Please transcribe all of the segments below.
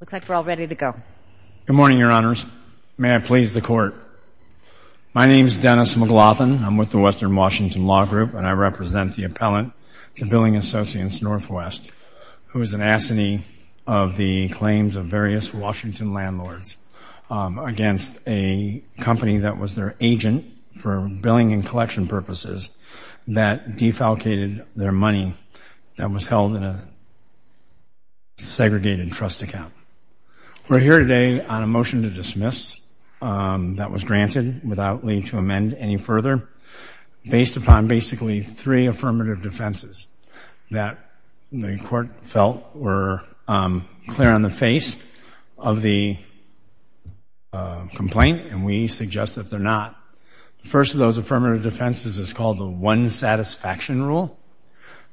Looks like we're all ready to go. Good morning, Your Honors. May I please the Court? My name is Dennis McLaughlin. I'm with the Western Washington Law Group, and I represent the appellant, the Billing Associates Northwest, who is an assinee of the claims of various Washington landlords against a company that was their agent for billing and collection purposes that defalcated their money that was held in a segregated trust account. We're here today on a motion to dismiss that was granted without leave to amend any further based upon basically three affirmative defenses that the Court felt were clear on the face of the complaint, and we suggest that they're not. The first of those affirmative defenses is called the One Satisfaction Rule.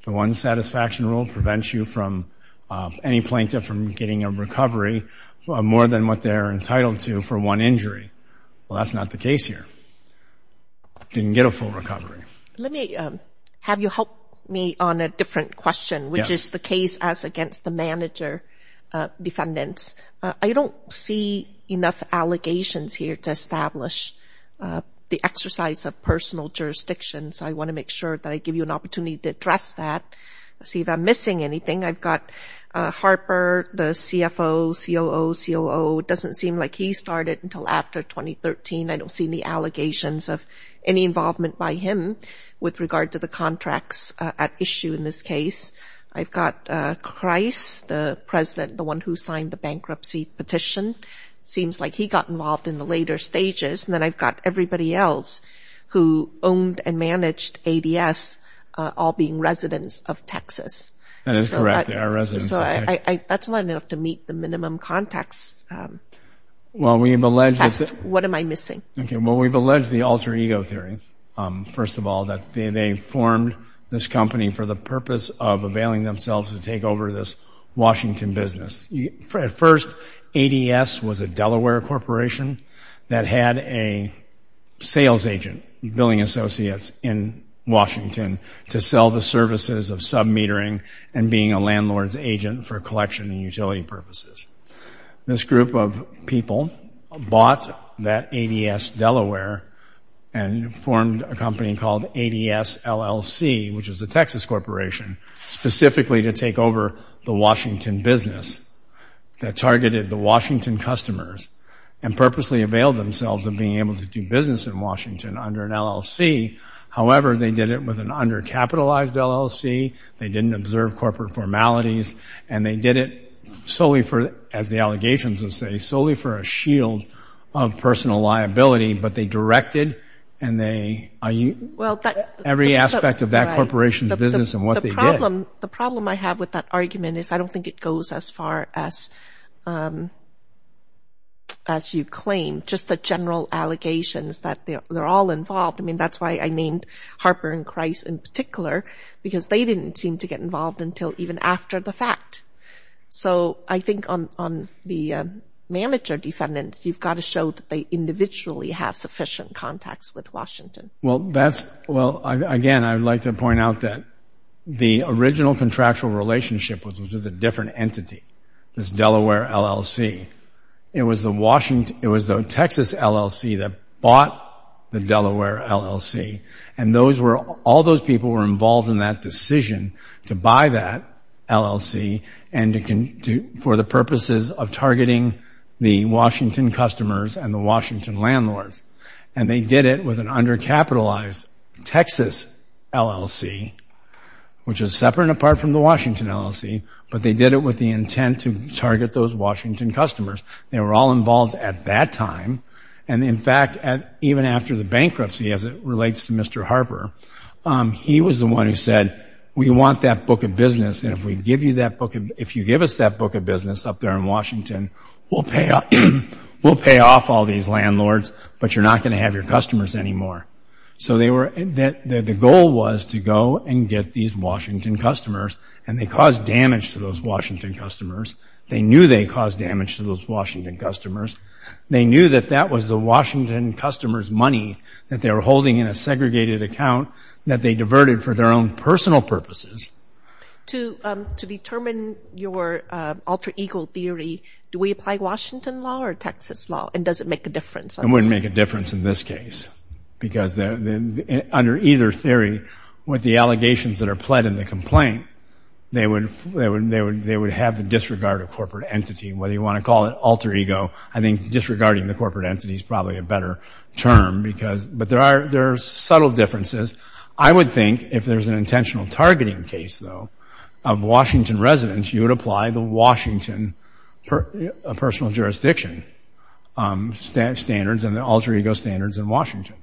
The One Satisfaction Rule prevents you from, any plaintiff from getting a recovery more than what they're entitled to for one injury. Well, that's not the case here. Didn't get a full recovery. Let me have you help me on a different question, which is the case as against the manager defendants. I don't see enough allegations here to establish the exercise of personal jurisdiction, so I want to make sure that I give you an opportunity to address that, see if I'm missing anything. I've got Harper, the CFO, COO, COO. It doesn't seem like he started until after 2013. I don't see any allegations of any involvement by him with regard to the contracts at issue in this case. I've got Christ, the president, the one who signed the bankruptcy petition. Seems like he got involved in the later stages, and then I've got everybody else who owned and managed ADS, all being residents of Texas. That is correct. They are residents of Texas. So that's not enough to meet the minimum context. Well, we've alleged that... What am I missing? Okay. Well, we've alleged the alter ego theory, first of all, that they formed this company for the purpose of availing themselves to take over this Washington business. At first, ADS was a Delaware corporation that had a sales agent, Billing Associates, in Washington to sell the services of sub-metering and being a landlord's agent for collection and utility purposes. This group of people bought that ADS Delaware and formed a company called ADS LLC, which is a Texas corporation, specifically to take over the Washington business that targeted the Washington customers and purposely availed themselves of being able to do business in Washington under an LLC. However, they did it with an undercapitalized LLC. They didn't observe corporate formalities, and they did it solely for, as the allegations would say, solely for a shield of personal liability, but they directed and they... Every aspect of that corporation's business and what they did. The problem I have with that argument is I don't think it goes as far as you claim, just the general allegations that they're all involved. I mean, that's why I named Harper and Kreis in particular, because they didn't seem to get involved until even after the fact. So I think on the manager defendants, you've got to show that they individually have sufficient contacts with Washington. Well, again, I'd like to point out that the original contractual relationship was with a different entity, this Delaware LLC. It was the Texas LLC that bought the Delaware LLC, and all those people were involved in that decision to buy that LLC for the purposes of targeting the Washington customers and the Washington landlords. And they did it with an undercapitalized Texas LLC, which is separate and apart from the Washington LLC, but they did it with the intent to target those Washington customers. They were all involved at that time, and in fact, even after the bankruptcy, as it relates to Mr. Harper, he was the one who said, we want that book of business, and if you give us that book of business up there in Washington, we'll pay off all these landlords, but you're not going to have your customers anymore. So the goal was to go and get these Washington customers, and they caused damage to those Washington customers. They knew they caused damage to those Washington customers. They knew that that was the Washington customers' money that they were holding in a segregated account that they diverted for their own personal purposes. To determine your alter ego theory, do we apply Washington law or Texas law, and does it make a difference? It wouldn't make a difference in this case, because under either theory, with the allegations that are pled in the complaint, they would have the disregard of corporate entity, whether you want to call it alter ego. I think disregarding the corporate entity is probably a better term, but there are subtle differences. I would think if there's an intentional targeting case, though, of Washington residents, you would apply the Washington personal jurisdiction standards and the alter ego standards in Washington,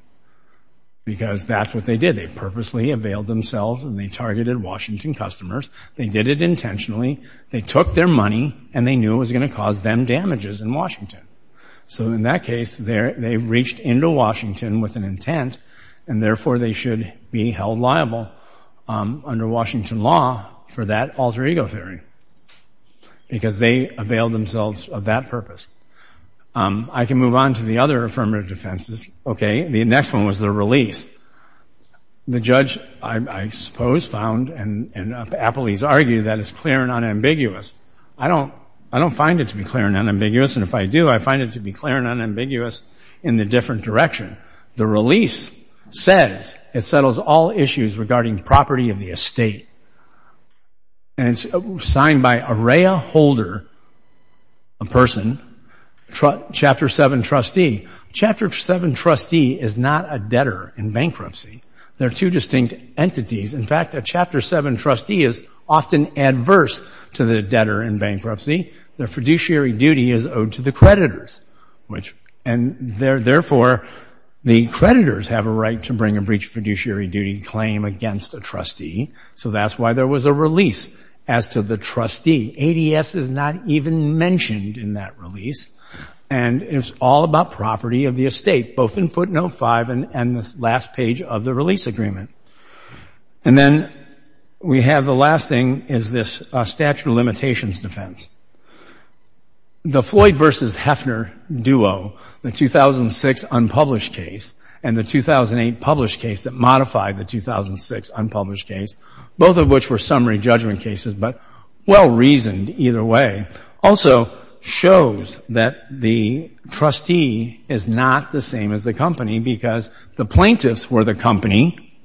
because that's what they did. They purposely availed themselves, and they targeted Washington customers. They did it intentionally. They took their money, and they knew it was going to cause them damages in Washington. So in that case, they reached into Washington with an intent, and therefore, they should be held liable under Washington law for that alter ego theory, because they availed themselves of that purpose. I can move on to the other affirmative defenses. The next one was the release. The judge, I suppose, found, and appellees argue, that it's clear and unambiguous. I don't find it to be clear and unambiguous, and if I do, I find it to be clear and unambiguous in the different direction. The release says it settles all issues regarding property of the estate, and it's signed by Araya Holder, a person, Chapter 7 trustee. A Chapter 7 trustee is not a debtor in bankruptcy. They're two distinct entities. In fact, a Chapter 7 trustee is often adverse to the debtor in bankruptcy. Their fiduciary duty is owed to the creditors, and therefore, the creditors have a right to bring a breach of fiduciary duty claim against a trustee. So that's why there was a release as to the trustee. ADS is not even mentioned in that release, and it's all about property of the estate, both in footnote 5 and this last page of the release agreement. And then we have the last thing, is this statute of limitations defense. The Floyd versus Heffner duo, the 2006 unpublished case and the 2008 published case that modified the 2006 unpublished case, both of which were summary judgment cases, but well-reasoned either way, also shows that the trustee is not the same as the company because the plaintiffs were the company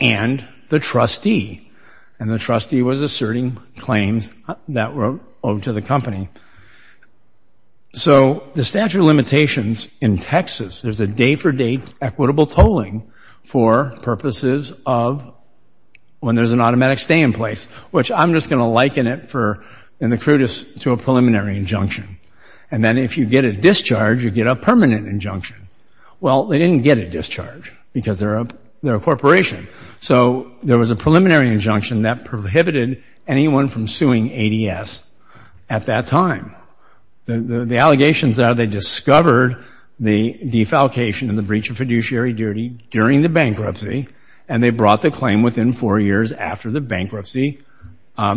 and the trustee, and the trustee was asserting claims that were owed to the company. So the statute of limitations in Texas, there's a day-for-day equitable tolling for purposes of when there's an automatic stay-in-place, which I'm just going to liken it in the crudest to a preliminary injunction. And then if you get a discharge, you get a permanent injunction. Well, they didn't get a discharge because they're a corporation. So there was a preliminary injunction that prohibited anyone from suing ADS at that time. The allegations are they discovered the defalcation and the breach of fiduciary duty during the bankruptcy, and they brought the claim within four years after the bankruptcy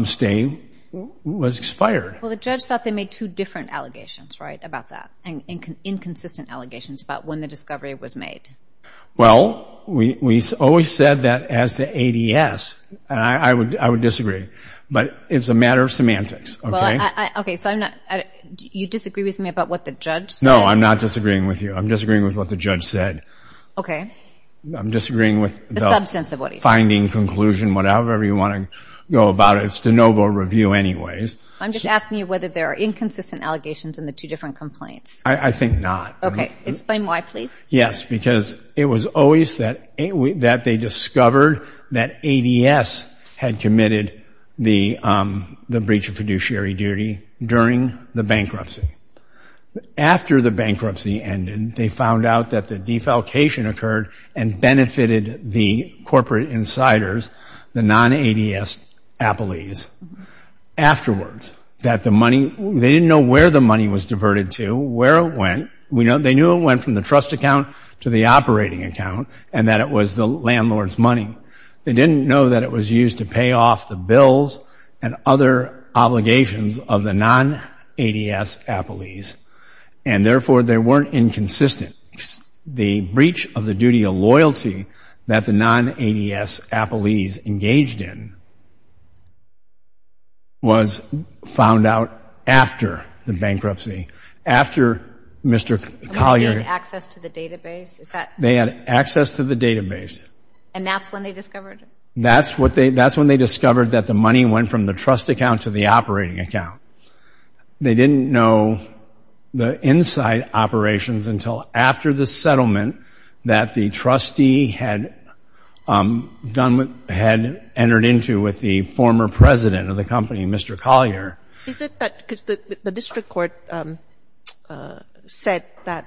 stay was expired. Well, the judge thought they made two different allegations, right, about that, and inconsistent allegations about when the discovery was made. Well, we always said that as to ADS, and I would disagree, but it's a matter of semantics, okay? Well, I, okay, so I'm not, you disagree with me about what the judge said? No, I'm not disagreeing with you. I'm disagreeing with what the judge said. Okay. I'm disagreeing with the finding, conclusion, whatever you want to go about it. It's de novo review anyways. I'm just asking you whether there are inconsistent allegations in the two different complaints. I think not. Okay. Explain why, please. Yes, because it was always that they discovered that ADS had committed the breach of fiduciary duty during the bankruptcy. After the bankruptcy ended, they found out that the defalcation occurred and benefited the corporate insiders, the non-ADS Applees, afterwards, that the money, they didn't know where the money was diverted to, where it went. They knew it went from the trust account to the operating account, and that it was the landlord's money. They didn't know that it was used to pay off the bills and other obligations of the non-ADS Applees, and therefore, they weren't inconsistent. The breach of the duty of loyalty that the non-ADS Applees engaged in was found out after the bankruptcy, after Mr. Collier... They had access to the database? They had access to the database. And that's when they discovered it? That's when they discovered that the money went from the trust account to the operating account. They didn't know the inside operations until after the settlement that the trustee had entered into with the former president of the company, Mr. Collier. Is it that the district court said that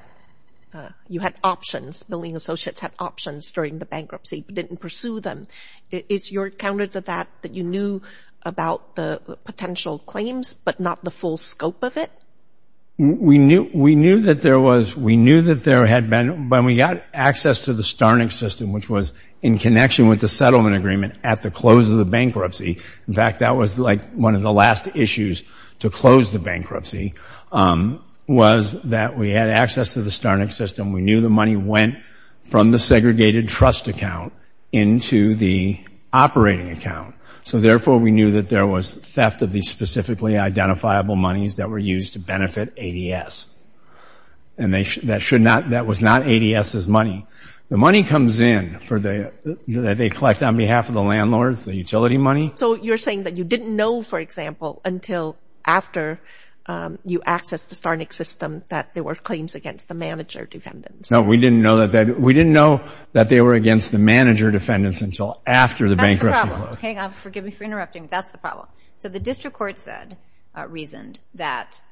you had options, the lien associates had options during the bankruptcy, but didn't pursue them? Is your counter to that that you knew about the potential claims, but not the full scope of it? We knew that there was... We knew that there had been... When we got access to the Starnick system, which was in connection with the settlement agreement at the close of the bankruptcy, in fact, that was one of the last issues to close the bankruptcy, was that we had access to the Starnick system. We knew the money went from the segregated trust account into the operating account. So therefore, we knew that there was theft of these specifically identifiable monies that were used to benefit ADS. And that was not ADS's money. The money comes in that they collect on behalf of the landlords, the utility money. So you're saying that you didn't know, for example, until after you accessed the Starnick system that there were claims against the manager defendants? No, we didn't know that they... We didn't know that they were against the manager defendants until after the bankruptcy closed. Hang on, forgive me for interrupting, but that's the problem. So the district court said, reasoned, that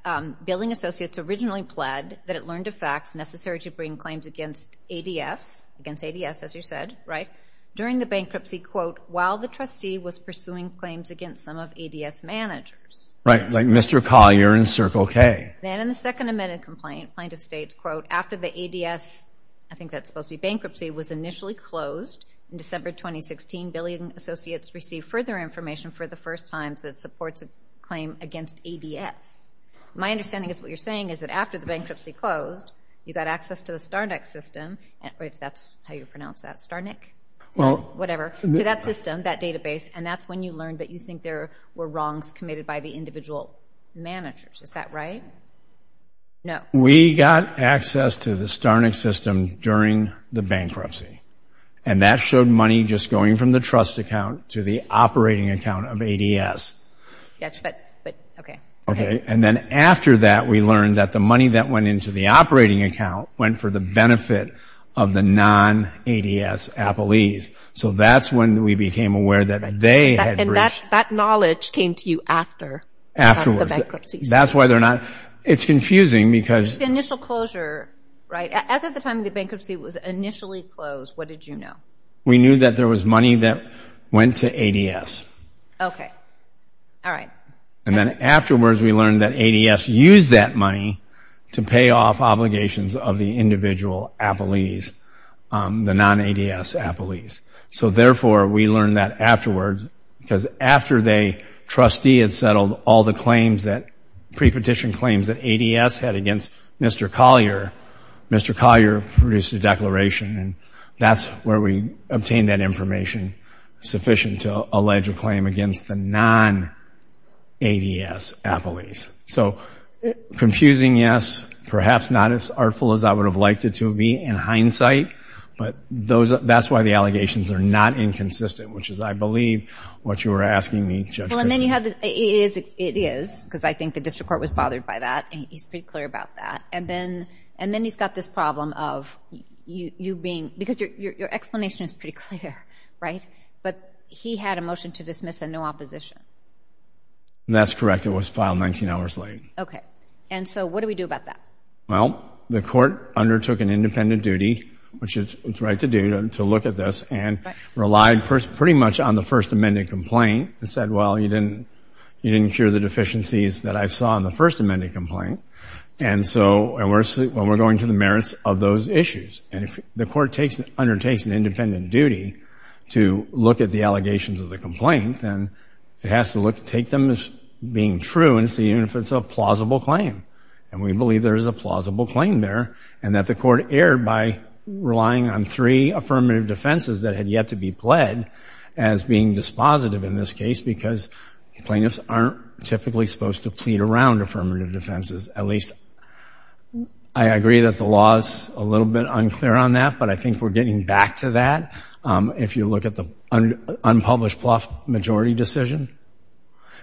billing associates originally pled that it learned of facts necessary to bring claims against ADS, against ADS, as you said, right? During the bankruptcy, quote, while the trustee was pursuing claims against some of ADS managers. Right, like Mr. Collier and Circle K. Then in the second amended complaint, plaintiff states, quote, after the ADS, I think that's supposed to be bankruptcy, was initially closed in December 2016, billing associates received further information for the first time that supports a claim against ADS. My understanding is what you're saying is that after the bankruptcy closed, you got access to the Starnick system, if that's how you pronounce that, Starnick, whatever, to that system, that database, and that's when you learned that you think there were wrongs committed by the individual managers. Is that right? No. We got access to the Starnick system during the bankruptcy. And that showed money just going from the trust account to the operating account of ADS. Yes, but, but, okay. Okay. And then after that, we learned that the money that went into the operating account went for the benefit of the non-ADS Applees. So that's when we became aware that they had breached. That knowledge came to you after the bankruptcy. That's why they're not, it's confusing because... It's the initial closure, right? As of the time the bankruptcy was initially closed, what did you know? We knew that there was money that went to ADS. Okay. All right. And then afterwards, we learned that ADS used that money to pay off obligations of the individual Applees, the non-ADS Applees. So therefore, we learned that afterwards, because after the trustee had settled all the claims that, pre-petition claims that ADS had against Mr. Collier, Mr. Collier produced a declaration. And that's where we obtained that information sufficient to allege a claim against the non-ADS Applees. So confusing, yes. Perhaps not as artful as I would have liked it to be in hindsight. But that's why the allegations are not inconsistent, which is, I believe, what you were asking me, Judge Christie. Well, and then you have the... It is, because I think the district court was bothered by that, and he's pretty clear about that. And then he's got this problem of you being... Because your explanation is pretty clear, right? But he had a motion to dismiss and no opposition. That's correct. It was filed 19 hours late. Okay. And so what do we do about that? Well, the court undertook an independent duty, which is its right to do, to look at this, and relied pretty much on the First Amendment complaint, and said, well, you didn't cure the deficiencies that I saw in the First Amendment complaint, and we're going to the merits of those issues. And if the court undertakes an independent duty to look at the allegations of the complaint, then it has to take them as being true, and see even if it's a plausible claim. And we believe there is a plausible claim there, and that the court erred by relying on three affirmative defenses that had yet to be pled as being dispositive in this case, because plaintiffs aren't typically supposed to plead around affirmative defenses, at least I agree that the law is a little bit unclear on that, but I think we're getting back to that. If you look at the unpublished plough majority decision.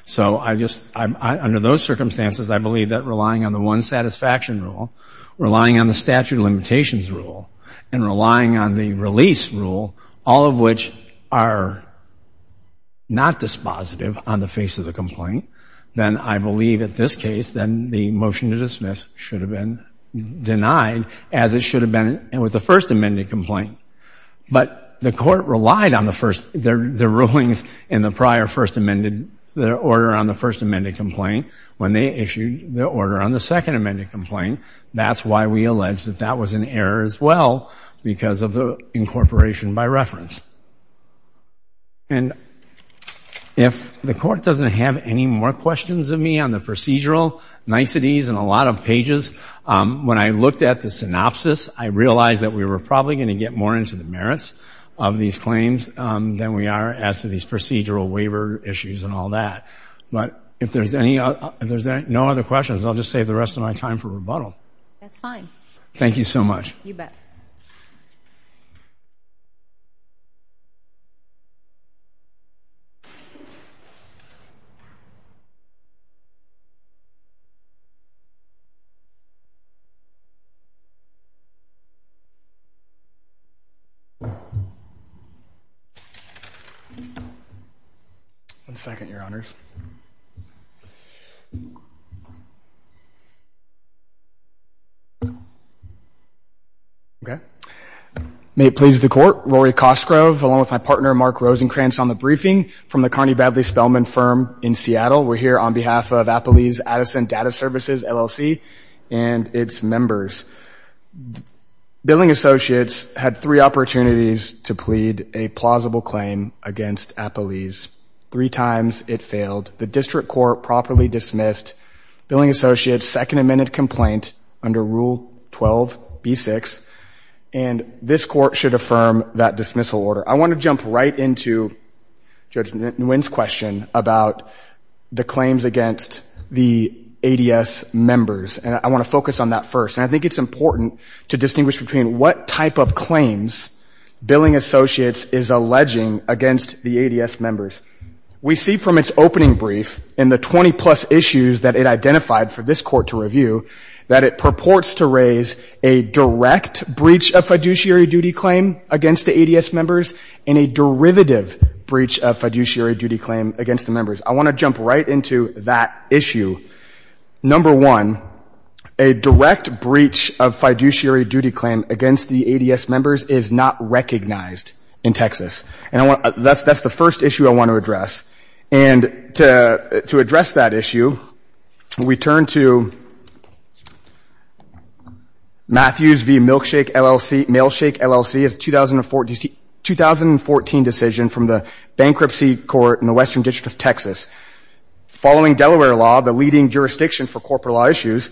So under those circumstances, I believe that relying on the one satisfaction rule, relying on the statute of limitations rule, and relying on the release rule, all of which are not dispositive on the face of the complaint, then I believe at this case, then the motion to dismiss should have been denied, as it should have been with the First Amendment complaint. But the court relied on the rulings in the prior First Amendment, the order on the First Amendment complaint, when they issued the order on the Second Amendment complaint. That's why we allege that that was an error as well, because of the incorporation by reference. And if the court doesn't have any more questions of me on the procedural niceties and a lot of pages, when I looked at the synopsis, I realized that we were probably going to get more into the merits of these claims than we are as to these procedural waiver issues and all that. But if there's no other questions, I'll just save the rest of my time for rebuttal. That's fine. Thank you so much. You bet. One second, Your Honors. Okay. May it please the court, Rory Cosgrove, along with my partner, Mark Rosenkranz, on the briefing from the Connie Badley Spellman firm in Seattle. We're here on behalf of Appalese Addison Data Services, LLC, and its members. Billing associates had three opportunities to plead a plausible claim against Appalese. Three times it failed. The district court properly dismissed billing associates' second amended complaint under Rule 12b-6, and this court should affirm that dismissal order. I want to jump right into Judge Nguyen's question about the claims against the ADS members, and I want to focus on that first. And I think it's important to distinguish between what type of claims billing associates is alleging against the ADS members. We see from its opening brief in the 20-plus issues that it identified for this court to review that it purports to raise a direct breach of fiduciary duty claim against the ADS members and a derivative breach of fiduciary duty claim against the members. I want to jump right into that issue. Number one, a direct breach of fiduciary duty claim against the ADS members is not recognized in Texas. And that's the first issue I want to address. And to address that issue, we turn to Matthews v. Milkshake, LLC, as a 2014 decision from the bankruptcy court in the Western District of Texas. Following Delaware law, the leading jurisdiction for corporate law issues,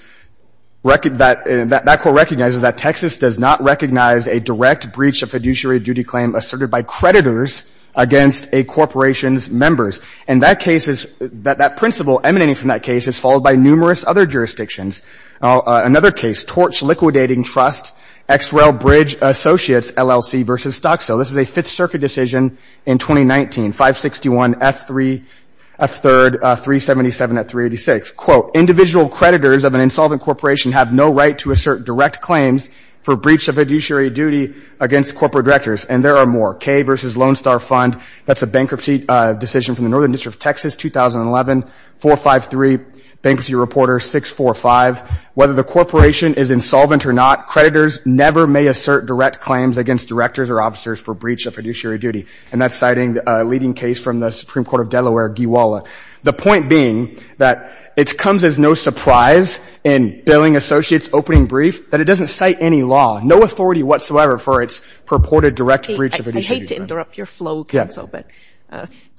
that court recognizes that Texas does not recognize a direct breach of fiduciary duty claim asserted by creditors against a corporation's members. And that case is — that principle emanating from that case is followed by numerous other jurisdictions. Another case, Torch Liquidating Trust, XREL Bridge Associates, LLC, v. Stocksville. This is a Fifth Circuit decision in 2019, 561 F3 — F3rd 377 at 386, quote, individual creditors of an insolvent corporation have no right to assert direct claims for breach of fiduciary duty against corporate directors. And there are more. Kay v. Lone Star Fund, that's a bankruptcy decision from the Northern District of Texas, 2011, 453, Bankruptcy Reporter 645. Whether the corporation is insolvent or not, creditors never may assert direct claims against directors or officers for breach of fiduciary duty. And that's citing a leading case from the Supreme Court of Delaware, GWALA. The point being that it comes as no surprise in Billing Associates' opening brief that it doesn't cite any law, no authority whatsoever for its purported direct breach of fiduciary I hate to interrupt your flow, Counsel, but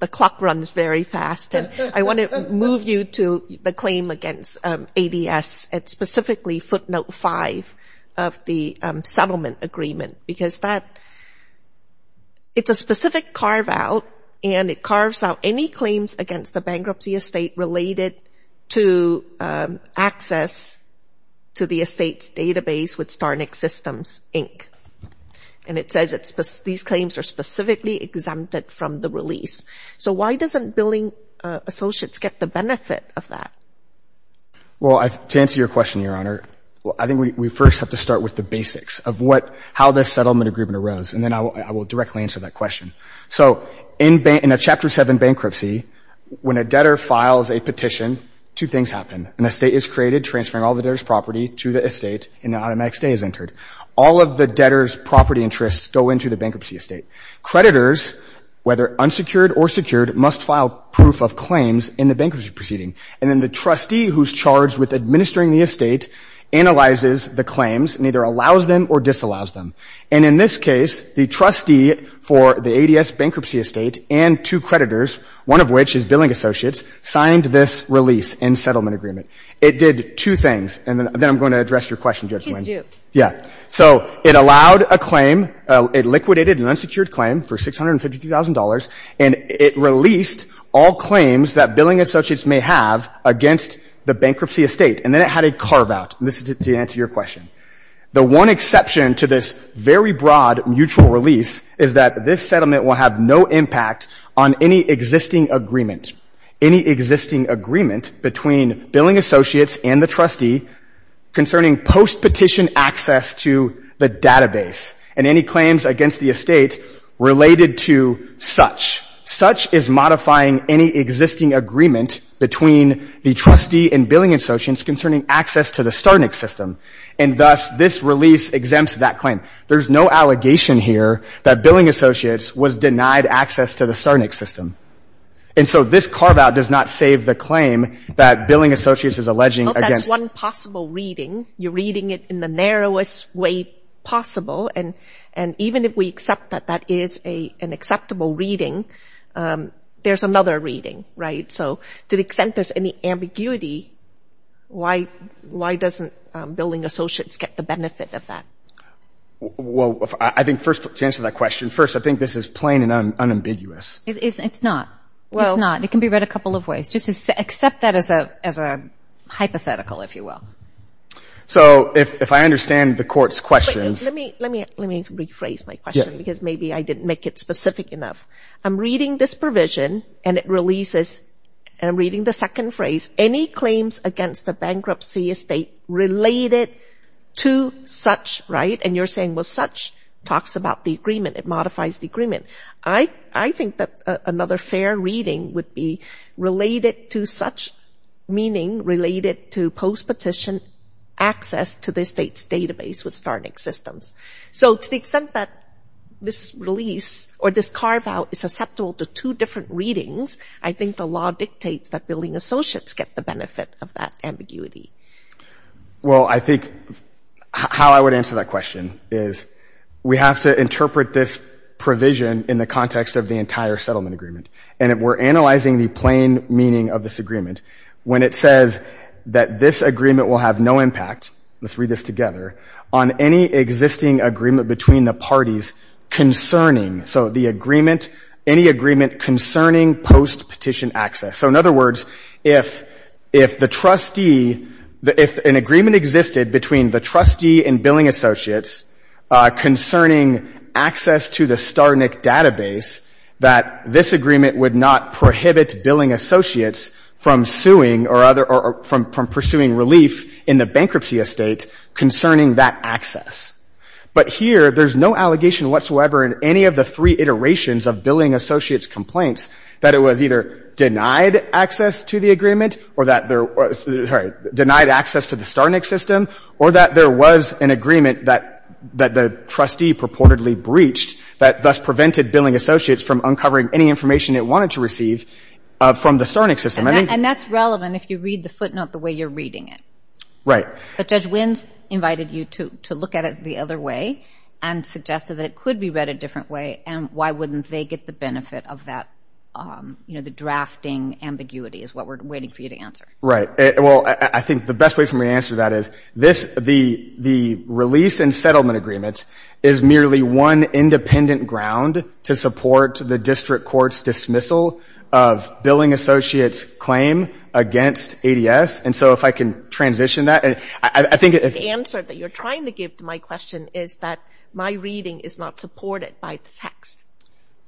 the clock runs very fast. And I want to move you to the claim against ADS, and specifically footnote 5 of the settlement agreement, because that — it's a specific carve-out, and it carves out any claims against a bankruptcy estate related to access to the estate's database with Starnick Systems, Inc. And it says these claims are specifically exempted from the release. So why doesn't Billing Associates get the benefit of that? Well, to answer your question, Your Honor, I think we first have to start with the basics of what — how this settlement agreement arose, and then I will directly answer that question. So in a Chapter 7 bankruptcy, when a debtor files a petition, two things happen. An estate is created, transferring all the debtor's property to the estate, and an automatic stay is entered. All of the debtor's property interests go into the bankruptcy estate. Creditors, whether unsecured or secured, must file proof of claims in the bankruptcy proceeding. And then the trustee who's charged with administering the estate analyzes the claims and either allows them or disallows them. And in this case, the trustee for the ADS bankruptcy estate and two creditors, one of which is Billing Associates, signed this release and settlement agreement. It did two things, and then I'm going to address your question, Judge Wynn. Please do. Yeah. So it allowed a claim — it liquidated an unsecured claim for $653,000, and it released all claims that Billing Associates may have against the bankruptcy estate. And then it had a carve-out. And this is to answer your question. The one exception to this very broad mutual release is that this settlement will have no impact on any existing agreement — any existing agreement between Billing Associates and the trustee concerning post-petition access to the database and any claims against the estate related to such. Such is modifying any existing agreement between the trustee and Billing Associates concerning access to the Starnik system. And thus, this release exempts that claim. There's no allegation here that Billing Associates was denied access to the Starnik system. And so this carve-out does not save the claim that Billing Associates is alleging against — Well, that's one possible reading. You're reading it in the narrowest way possible. And even if we accept that that is an acceptable reading, there's another reading, right? So to the extent there's any ambiguity, why doesn't Billing Associates get the benefit of that? Well, I think first — to answer that question, first, I think this is plain and unambiguous. It's not. Well — It's not. It can be read a couple of ways. Just accept that as a hypothetical, if you will. So if I understand the Court's questions — Let me rephrase my question because maybe I didn't make it specific enough. I'm reading this provision, and it releases — I'm reading the second phrase. Any claims against a bankruptcy estate related to such — right? And you're saying, well, such talks about the agreement. It modifies the agreement. I think that another fair reading would be related to such, meaning related to post-petition access to the state's database with Starnik systems. So to the extent that this release or this carve-out is acceptable to two different readings, I think the law dictates that Billing Associates get the benefit of that ambiguity. Well, I think how I would answer that question is we have to interpret this provision in the context of the entire settlement agreement. And if we're analyzing the plain meaning of this agreement, when it says that this agreement will have no impact — let's read this together — on any existing agreement between the parties concerning — so the agreement — any agreement concerning post-petition access. So in other words, if the trustee — if an agreement existed between the trustee and Billing Associates concerning access to the Starnik database, that this agreement would not prohibit Billing Associates from suing or other — from pursuing relief in the bankruptcy estate concerning that access. But here, there's no allegation whatsoever in any of the three iterations of Billing Associates' complaints that it was either denied access to the agreement or that there — sorry, denied access to the Starnik system or that there was an agreement that the trustee purportedly breached that thus prevented Billing Associates from uncovering any information it wanted to receive from the Starnik system. And that's relevant if you read the footnote the way you're reading it. Right. But Judge Wins invited you to look at it the other way and suggested that it could be read a different way. And why wouldn't they get the benefit of that — you know, the drafting ambiguity is what we're waiting for you to answer. Right. Well, I think the best way for me to answer that is this — the release and settlement agreement is merely one independent ground to support the district court's dismissal of Billing Associates' claim against ADS. And so if I can transition that — I think it's — The answer that you're trying to give to my question is that my reading is not supported by the text.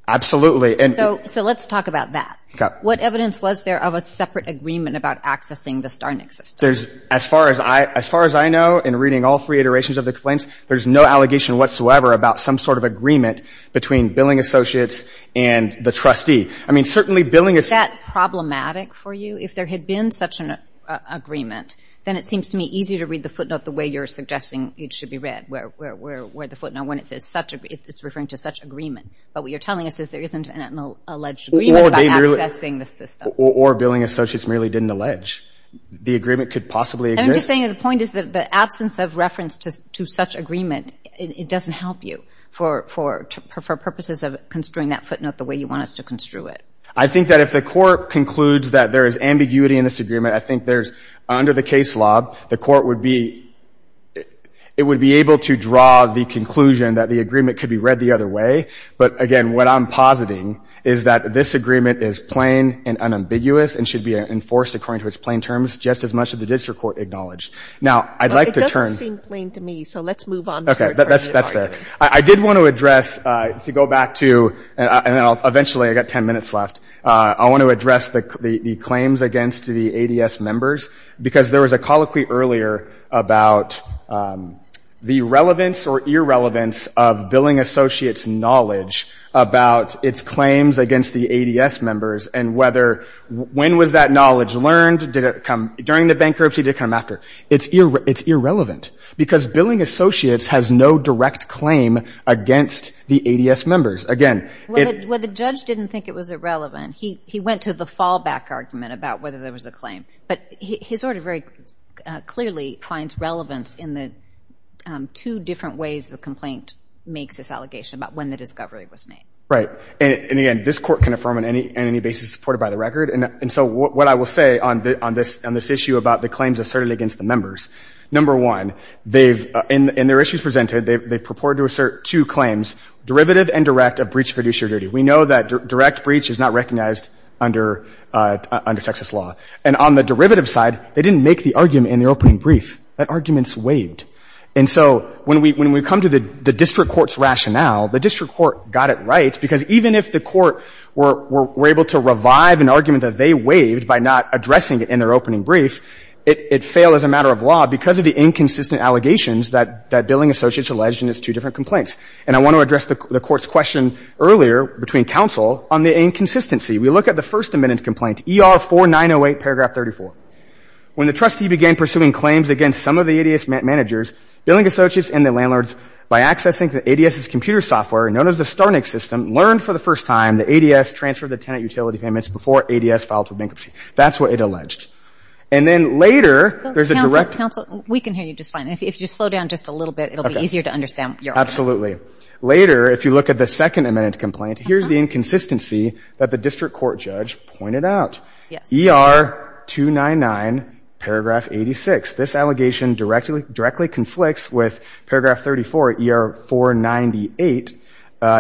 Absolutely. And — So let's talk about that. Okay. What evidence was there of a separate agreement about accessing the Starnik system? There's — as far as I — as far as I know, in reading all three iterations of the complaints, there's no allegation whatsoever about some sort of agreement between Billing Associates and the trustee. I mean, certainly Billing — Is that problematic for you? If there had been such an agreement, then it seems to me easier to read the footnote the way you're suggesting it should be read, where the footnote, when it says such a — it's referring to such agreement. But what you're telling us is there isn't an alleged agreement about accessing the system. Or Billing Associates merely didn't allege. The agreement could possibly exist. And I'm just saying that the point is that the absence of reference to such agreement, it doesn't help you for purposes of construing that footnote the way you want us to construe it. I think that if the court concludes that there is ambiguity in this agreement, I think there's — under the case law, the court would be — it would be able to draw the conclusion that the agreement could be read the other way. But again, what I'm positing is that this agreement is plain and unambiguous and should be enforced according to its plain terms, just as much as the district court acknowledged. Now, I'd like to turn — But it doesn't seem plain to me, so let's move on to the third part of the argument. Okay. That's fair. I did want to address — to go back to — and then I'll — eventually, I've got 10 minutes left. I want to address the claims against the ADS members, because there was a colloquy earlier about the relevance or irrelevance of Billing Associates' knowledge about its claims against the ADS members and whether — when was that knowledge learned? Did it come — during the bankruptcy, did it come after? It's irrelevant, because Billing Associates has no direct claim against the ADS members. Again, it — Well, the judge didn't think it was irrelevant. He went to the fallback argument about whether there was a claim. But his order very clearly finds relevance in the two different ways the complaint makes this allegation about when the discovery was made. Right. And again, this Court can affirm on any basis supported by the record. And so what I will say on this issue about the claims asserted against the members, number one, they've — in their issues presented, they've purported to assert two claims, derivative and direct, of breach of fiduciary duty. We know that direct breach is not recognized under Texas law. And on the derivative side, they didn't make the argument in the opening brief. That argument's waived. And so when we come to the district court's rationale, the district court got it right because even if the court were able to revive an argument that they waived by not addressing it in their opening brief, it failed as a matter of law because of the inconsistent allegations that Billing Associates alleged in its two different complaints. And I want to address the Court's question earlier between counsel on the inconsistency. We look at the First Amendment complaint, ER 4908, paragraph 34. When the trustee began pursuing claims against some of the ADS managers, Billing Associates and the landlords, by accessing the ADS's computer software, known as the StarNIC system, learned for the first time that ADS transferred the tenant utility payments before ADS filed for bankruptcy. That's what it alleged. And then later, there's a direct — Counsel, counsel, we can hear you just fine. If you slow down just a little bit, it'll be easier to understand your argument. Absolutely. Later, if you look at the Second Amendment complaint, here's the inconsistency that the district court judge pointed out. Yes. ER 299, paragraph 86. This allegation directly conflicts with paragraph 34, ER 498,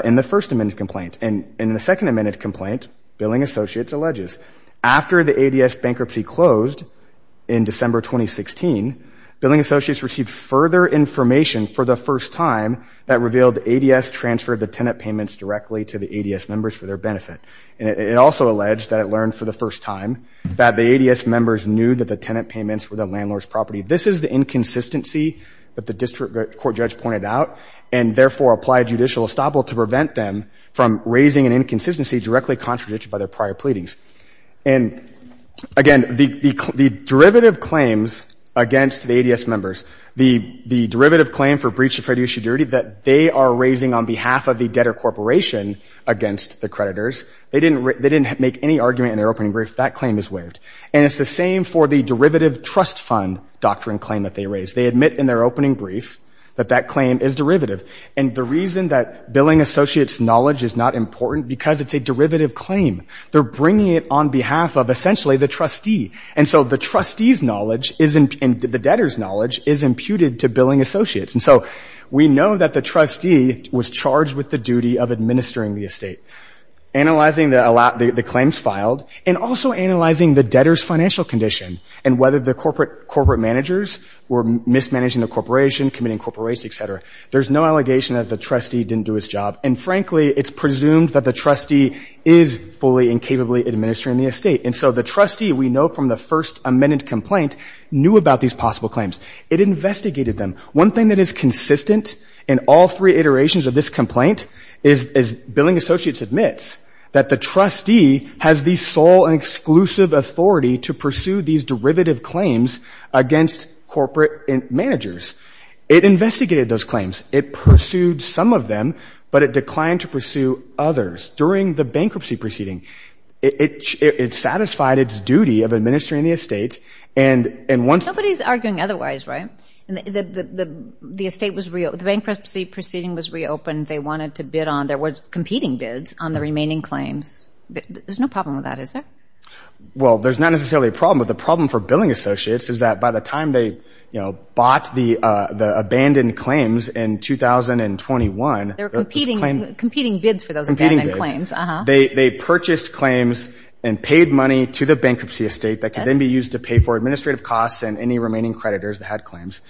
in the First Amendment complaint. And in the Second Amendment complaint, Billing Associates alleges, after the ADS bankruptcy closed in December 2016, Billing Associates received further information for the first time that revealed ADS transferred the tenant payments directly to the ADS members for their benefit. And it also alleged that it learned for the first time that the ADS members knew that the tenant payments were the landlord's property. This is the inconsistency that the district court judge pointed out and, therefore, applied judicial estoppel to prevent them from raising an inconsistency directly contradicted by their prior pleadings. And again, the derivative claims against the ADS members, the derivative claim for breach of fiduciary duty that they are raising on behalf of the debtor corporation against the creditors, they didn't make any argument in their opening brief. That claim is waived. And it's the same for the derivative trust fund doctrine claim that they raised. They admit in their opening brief that that claim is derivative. And the reason that Billing Associates' knowledge is not important, because it's a derivative claim. They're bringing it on behalf of, essentially, the trustee. And so the trustee's knowledge and the debtor's knowledge is imputed to Billing Associates. And so we know that the trustee was charged with the duty of administering the estate, analyzing the claims filed, and also analyzing the debtor's financial condition and whether the corporate managers were mismanaging the corporation, committing corporate waste, etc. There's no allegation that the trustee didn't do his job. And frankly, it's presumed that the trustee is fully and capably administering the estate. And so the trustee, we know from the first amended complaint, knew about these possible claims. It investigated them. One thing that is consistent in all three iterations of this complaint is Billing Associates admits that the trustee has the sole and exclusive authority to pursue these derivative claims against corporate managers. It investigated those claims. It pursued some of them, but it declined to pursue others. During the bankruptcy proceeding, it satisfied its duty of administering the estate. And once— Nobody's arguing otherwise, right? The estate was—the bankruptcy proceeding was reopened. They wanted to bid on—there was competing bids on the remaining claims. There's no problem with that, is there? Well, there's not necessarily a problem, but the problem for Billing Associates is that by the time they, you know, bought the abandoned claims in 2021— There were competing bids for those abandoned claims, uh-huh. They purchased claims and paid money to the bankruptcy estate that could then be used to pay for administrative costs and any remaining creditors that had claims.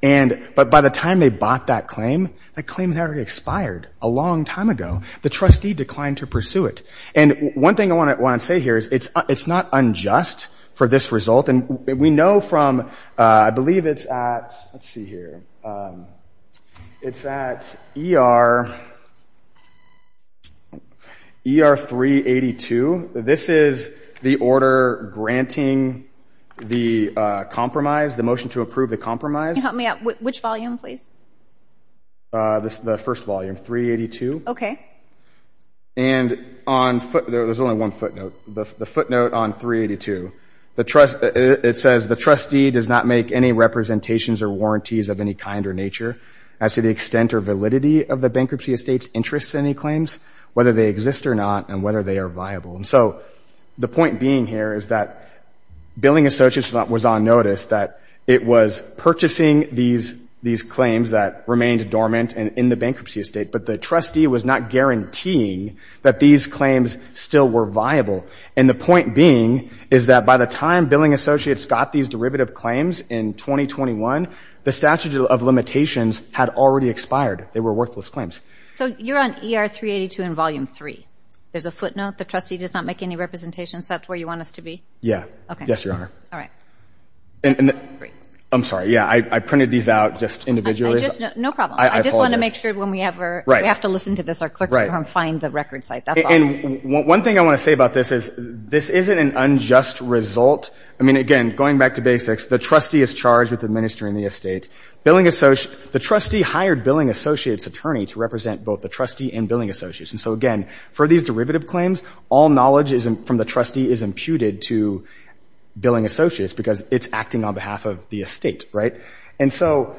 But by the time they bought that claim, that claim had already expired a long time ago. The trustee declined to pursue it. And one thing I want to say here is it's not unjust for this result. And we know from—I believe it's at—let's see here. It's at ER 382. This is the order granting the compromise, the motion to approve the compromise. Can you help me out? Which volume, please? The first volume, 382. Okay. And on foot—there's only one footnote. The footnote on 382, the trust—it says, the trustee does not make any representations or warranties of any kind or nature as to the extent or validity of the bankruptcy estate's interest in any claims, whether they exist or not, and whether they are viable. And so the point being here is that Billing Associates was on notice that it was purchasing these claims that remained dormant in the bankruptcy estate, but the trustee was not guaranteeing that these claims still were viable. And the point being is that by the time Billing Associates got these derivative claims in 2021, the statute of limitations had already expired. They were worthless claims. So you're on ER 382 in volume 3. There's a footnote, the trustee does not make any representations. That's where you want us to be? Okay. Yes, Your Honor. All right. And— I'm sorry. Yeah, I printed these out just individually. I just—no problem. I just want to make sure when we ever— Right. We have to listen to this. Our clerks will find the record site. That's all. And one thing I want to say about this is this isn't an unjust result. I mean, again, going back to basics, the trustee is charged with administering the estate. Billing—the trustee hired Billing Associates' attorney to represent both the trustee and Billing Associates. And so, again, for these derivative claims, all knowledge from the trustee is imputed to Billing Associates because it's acting on behalf of the estate, right? And so—but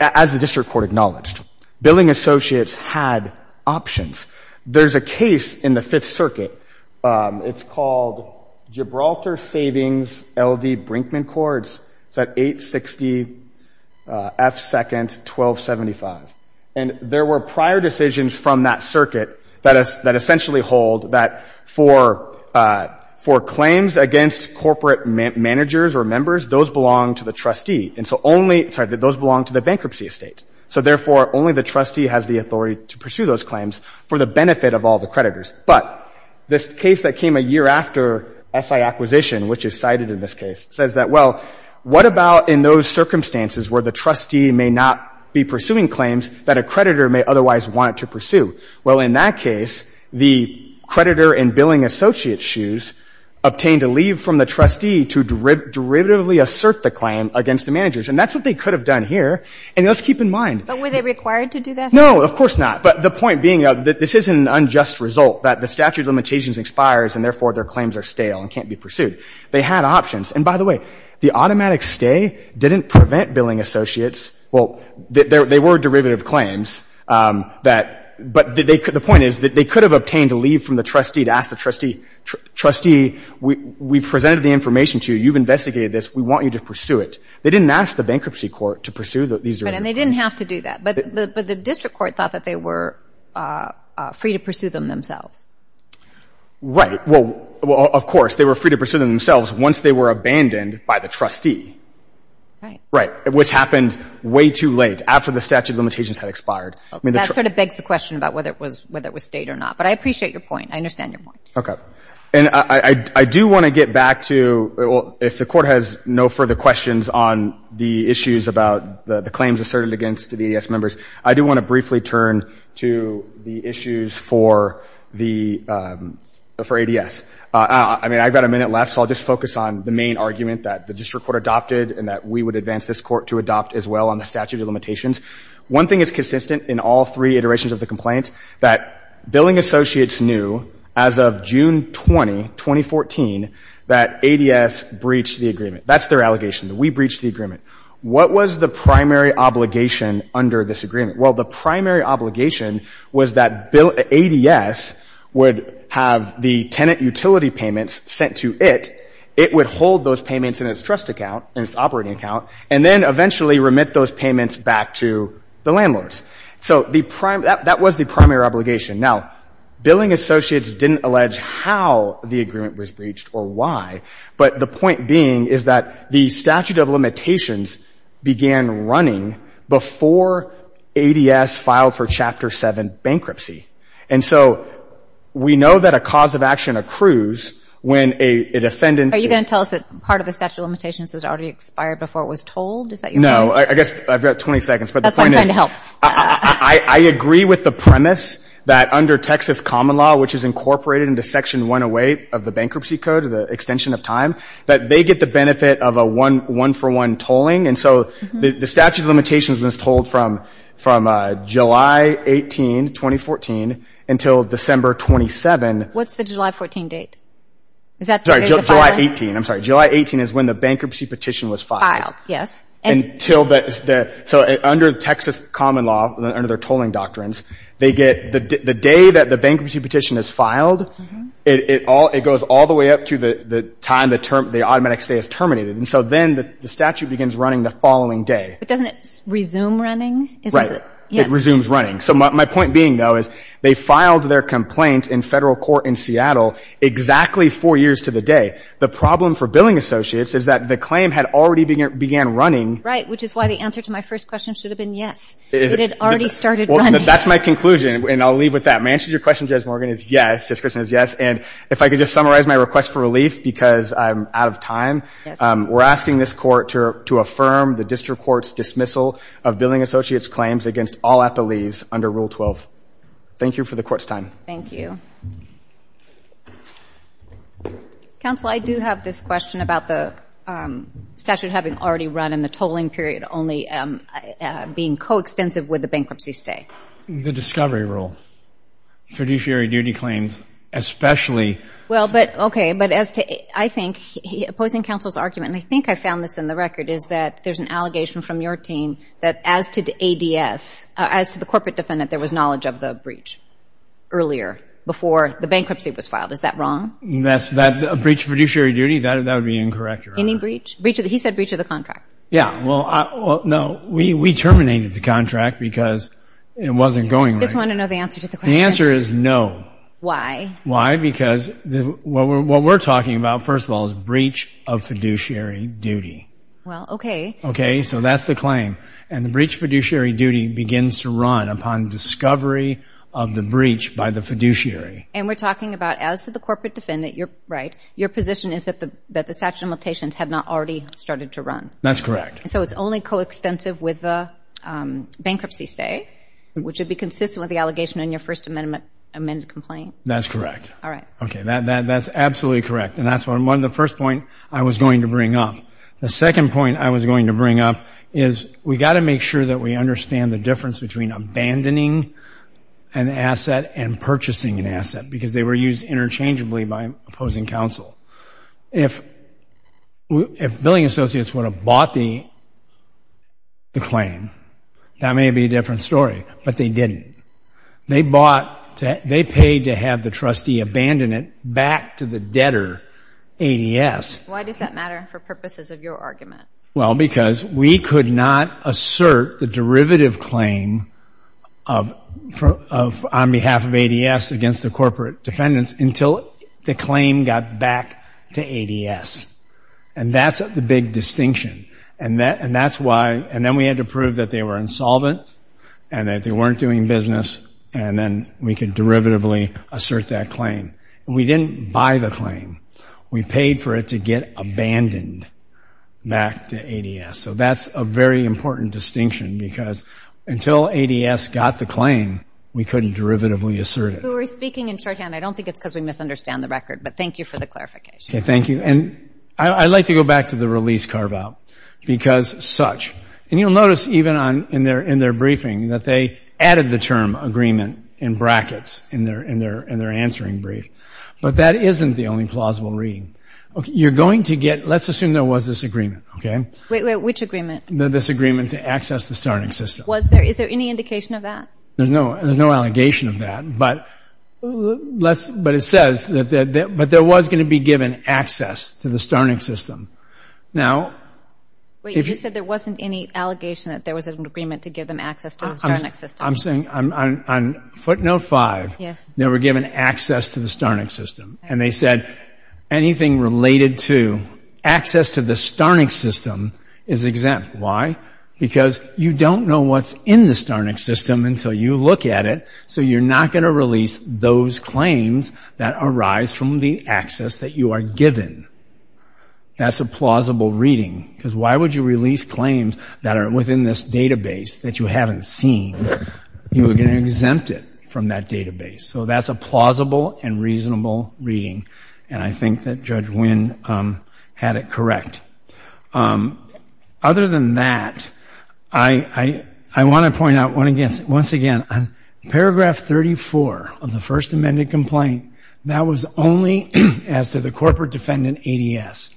as the district court acknowledged, Billing Associates had options. There's a case in the Fifth Circuit. It's called Gibraltar Savings, L.D. Brinkman Courts. It's at 860 F. 2nd, 1275. And there were prior decisions from that circuit that essentially hold that for claims against corporate managers or members, those belong to the trustee. And so only—sorry, that those belong to the bankruptcy estate. So, therefore, only the trustee has the authority to pursue those claims for the benefit of all the creditors. But this case that came a year after SI acquisition, which is cited in this case, says that, well, what about in those circumstances where the trustee may not be pursuing claims that a creditor may otherwise want to pursue? Well, in that case, the creditor in Billing Associates' shoes obtained a leave from the trustee to derivatively assert the claim against the managers. And that's what they could have done here. And let's keep in mind— But were they required to do that? No, of course not. But the point being that this is an unjust result, that the statute of limitations expires, and therefore their claims are stale and can't be pursued. They had options. And, by the way, the automatic stay didn't prevent Billing Associates— well, they were derivative claims that— but the point is that they could have obtained a leave from the trustee to ask the trustee, trustee, we've presented the information to you. You've investigated this. We want you to pursue it. They didn't ask the bankruptcy court to pursue these— Right. And they didn't have to do that. But the district court thought that they were free to pursue them themselves. Right. Well, of course, they were free to pursue them themselves once they were abandoned by the trustee. Right. Right. Which happened way too late, after the statute of limitations had expired. That sort of begs the question about whether it was stayed or not. But I appreciate your point. I understand your point. Okay. And I do want to get back to— if the Court has no further questions on the issues about the claims asserted against the ADS members, I do want to briefly turn to the issues for the— for ADS. I mean, I've got a minute left, so I'll just focus on the main argument that the district court adopted and that we would advance this Court to adopt as well on the statute of limitations. One thing is consistent in all three iterations of the complaint, that billing associates knew as of June 20, 2014, that ADS breached the agreement. That's their allegation, that we breached the agreement. What was the primary obligation under this agreement? Well, the primary obligation was that bill— utility payments sent to it, it would hold those payments in its trust account, in its operating account, and then eventually remit those payments back to the landlords. So the— that was the primary obligation. Now, billing associates didn't allege how the agreement was breached or why, but the point being is that the statute of limitations began running before ADS filed for Chapter 7 bankruptcy. And so we know that a cause of action accrues when a defendant— Are you going to tell us that part of the statute of limitations has already expired before it was told? Is that your point? No, I guess I've got 20 seconds, but the point is— That's what I'm trying to help. I agree with the premise that under Texas common law, which is incorporated into Section 108 of the Bankruptcy Code, the extension of time, that they get the benefit of a one-for-one tolling. And so the statute of limitations was told from July 18, 2014, until December 27. What's the July 14 date? Is that the date of the filing? Sorry, July 18. I'm sorry. July 18 is when the bankruptcy petition was filed. And until the— So under Texas common law, under their tolling doctrines, they get— the day that the bankruptcy petition is filed, it goes all the way up to the time the automatic stay is terminated. And so then the statute begins running the following day. But doesn't it resume running? Right. It resumes running. So my point being, though, is they filed their complaint in federal court in Seattle exactly four years to the day. The problem for billing associates is that the claim had already began running. Right, which is why the answer to my first question should have been yes. It had already started running. That's my conclusion, and I'll leave with that. My answer to your question, Jess Morgan, is yes. Jess Christensen is yes. And if I could just summarize my request for relief, because I'm out of time. Yes. We're asking this court to affirm the district court's dismissal of billing associates' claims against all FLEs under Rule 12. Thank you for the court's time. Thank you. Counsel, I do have this question about the statute having already run and the tolling period only being coextensive with the bankruptcy stay. The discovery rule. Fiduciary duty claims, especially— Well, but, okay, but as to, I think, opposing counsel's argument, and I think I found this in the record, is that there's an allegation from your team that as to ADS, as to the corporate defendant, there was knowledge of the breach earlier, before the bankruptcy was filed. Is that wrong? That's, a breach of fiduciary duty, that would be incorrect. Any breach? Breach of, he said breach of the contract. Yeah, well, no, we terminated the contract because it wasn't going right. I just want to know the answer to the question. The answer is no. Why? Why? Because what we're talking about, first of all, is breach of fiduciary duty. Well, okay. Okay, so that's the claim. And the breach of fiduciary duty begins to run upon discovery of the breach by the fiduciary. And we're talking about, as to the corporate defendant, you're right, your position is that the statute of limitations had not already started to run. That's correct. So it's only coextensive with the bankruptcy stay, which would be consistent with the allegation in your First Amendment complaint. That's correct. All right. Okay, that's absolutely correct. And that's one of the first points I was going to bring up. The second point I was going to bring up is we've got to make sure that we understand the difference between abandoning an asset and purchasing an asset, because they were used interchangeably by opposing counsel. If billing associates would have bought the claim, that may be a different story, but they didn't. They bought, they paid to have the trustee abandon it back to the debtor, ADS. Why does that matter for purposes of your argument? Well, because we could not assert the derivative claim on behalf of ADS against the corporate defendants until the claim got back to ADS. And that's the big distinction. And that's why, and then we had to prove that they were insolvent and that they weren't doing business, and then we could derivatively assert that claim. We didn't buy the claim. We paid for it to get abandoned back to ADS. So that's a very important distinction, because until ADS got the claim, we couldn't derivatively assert it. We were speaking in shorthand. I don't think it's because we misunderstand the record, but thank you for the clarification. Okay, thank you. And I'd like to go back to the release carve-out, because such, and you'll notice even in their briefing that they added the term agreement in brackets in their answering brief, but that isn't the only plausible reading. You're going to get, let's assume there was this agreement, okay? Wait, wait, which agreement? This agreement to access the Starnik system. Was there, is there any indication of that? There's no, there's no allegation of that, but let's, but it says that, but there was going to be given access to the Starnik system. Now, if you said there wasn't any allegation that there was an agreement to give them access to the Starnik system. I'm saying, on footnote five, they were given access to the Starnik system, and they said anything related to access to the Starnik system is exempt. Why? Because you don't know what's in the Starnik system until you look at it, so you're not going to release those claims that arise from the access that you are given. That's a plausible reading, because why would you release claims that are within this database that you haven't seen, you are going to exempt it from that database. So that's a plausible and reasonable reading, and I think that Judge Wynn had it correct. Other than that, I, I, I want to point out once again, once again, on paragraph 34 of the first amended complaint, that was only as to the corporate defendant ADS.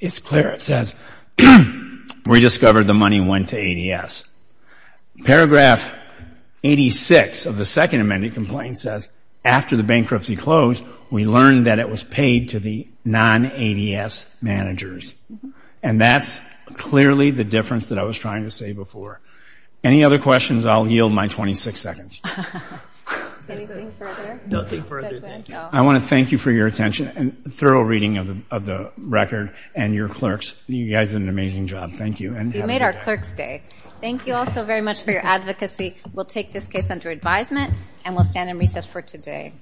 It's clear, it says, we discovered the money went to ADS. Paragraph 86 of the second amended complaint says, after the bankruptcy closed, we learned that it was paid to the non-ADS managers. And that's clearly the difference that I was trying to say before. Any other questions? I'll yield my 26 seconds. Anything further? Nothing further, thank you. I want to thank you for your attention and thorough reading of the record and your clerks. You guys did an amazing job. Thank you. You made our clerks day. Thank you all so very much for your advocacy. We'll take this case under advisement and we'll stand in recess for today.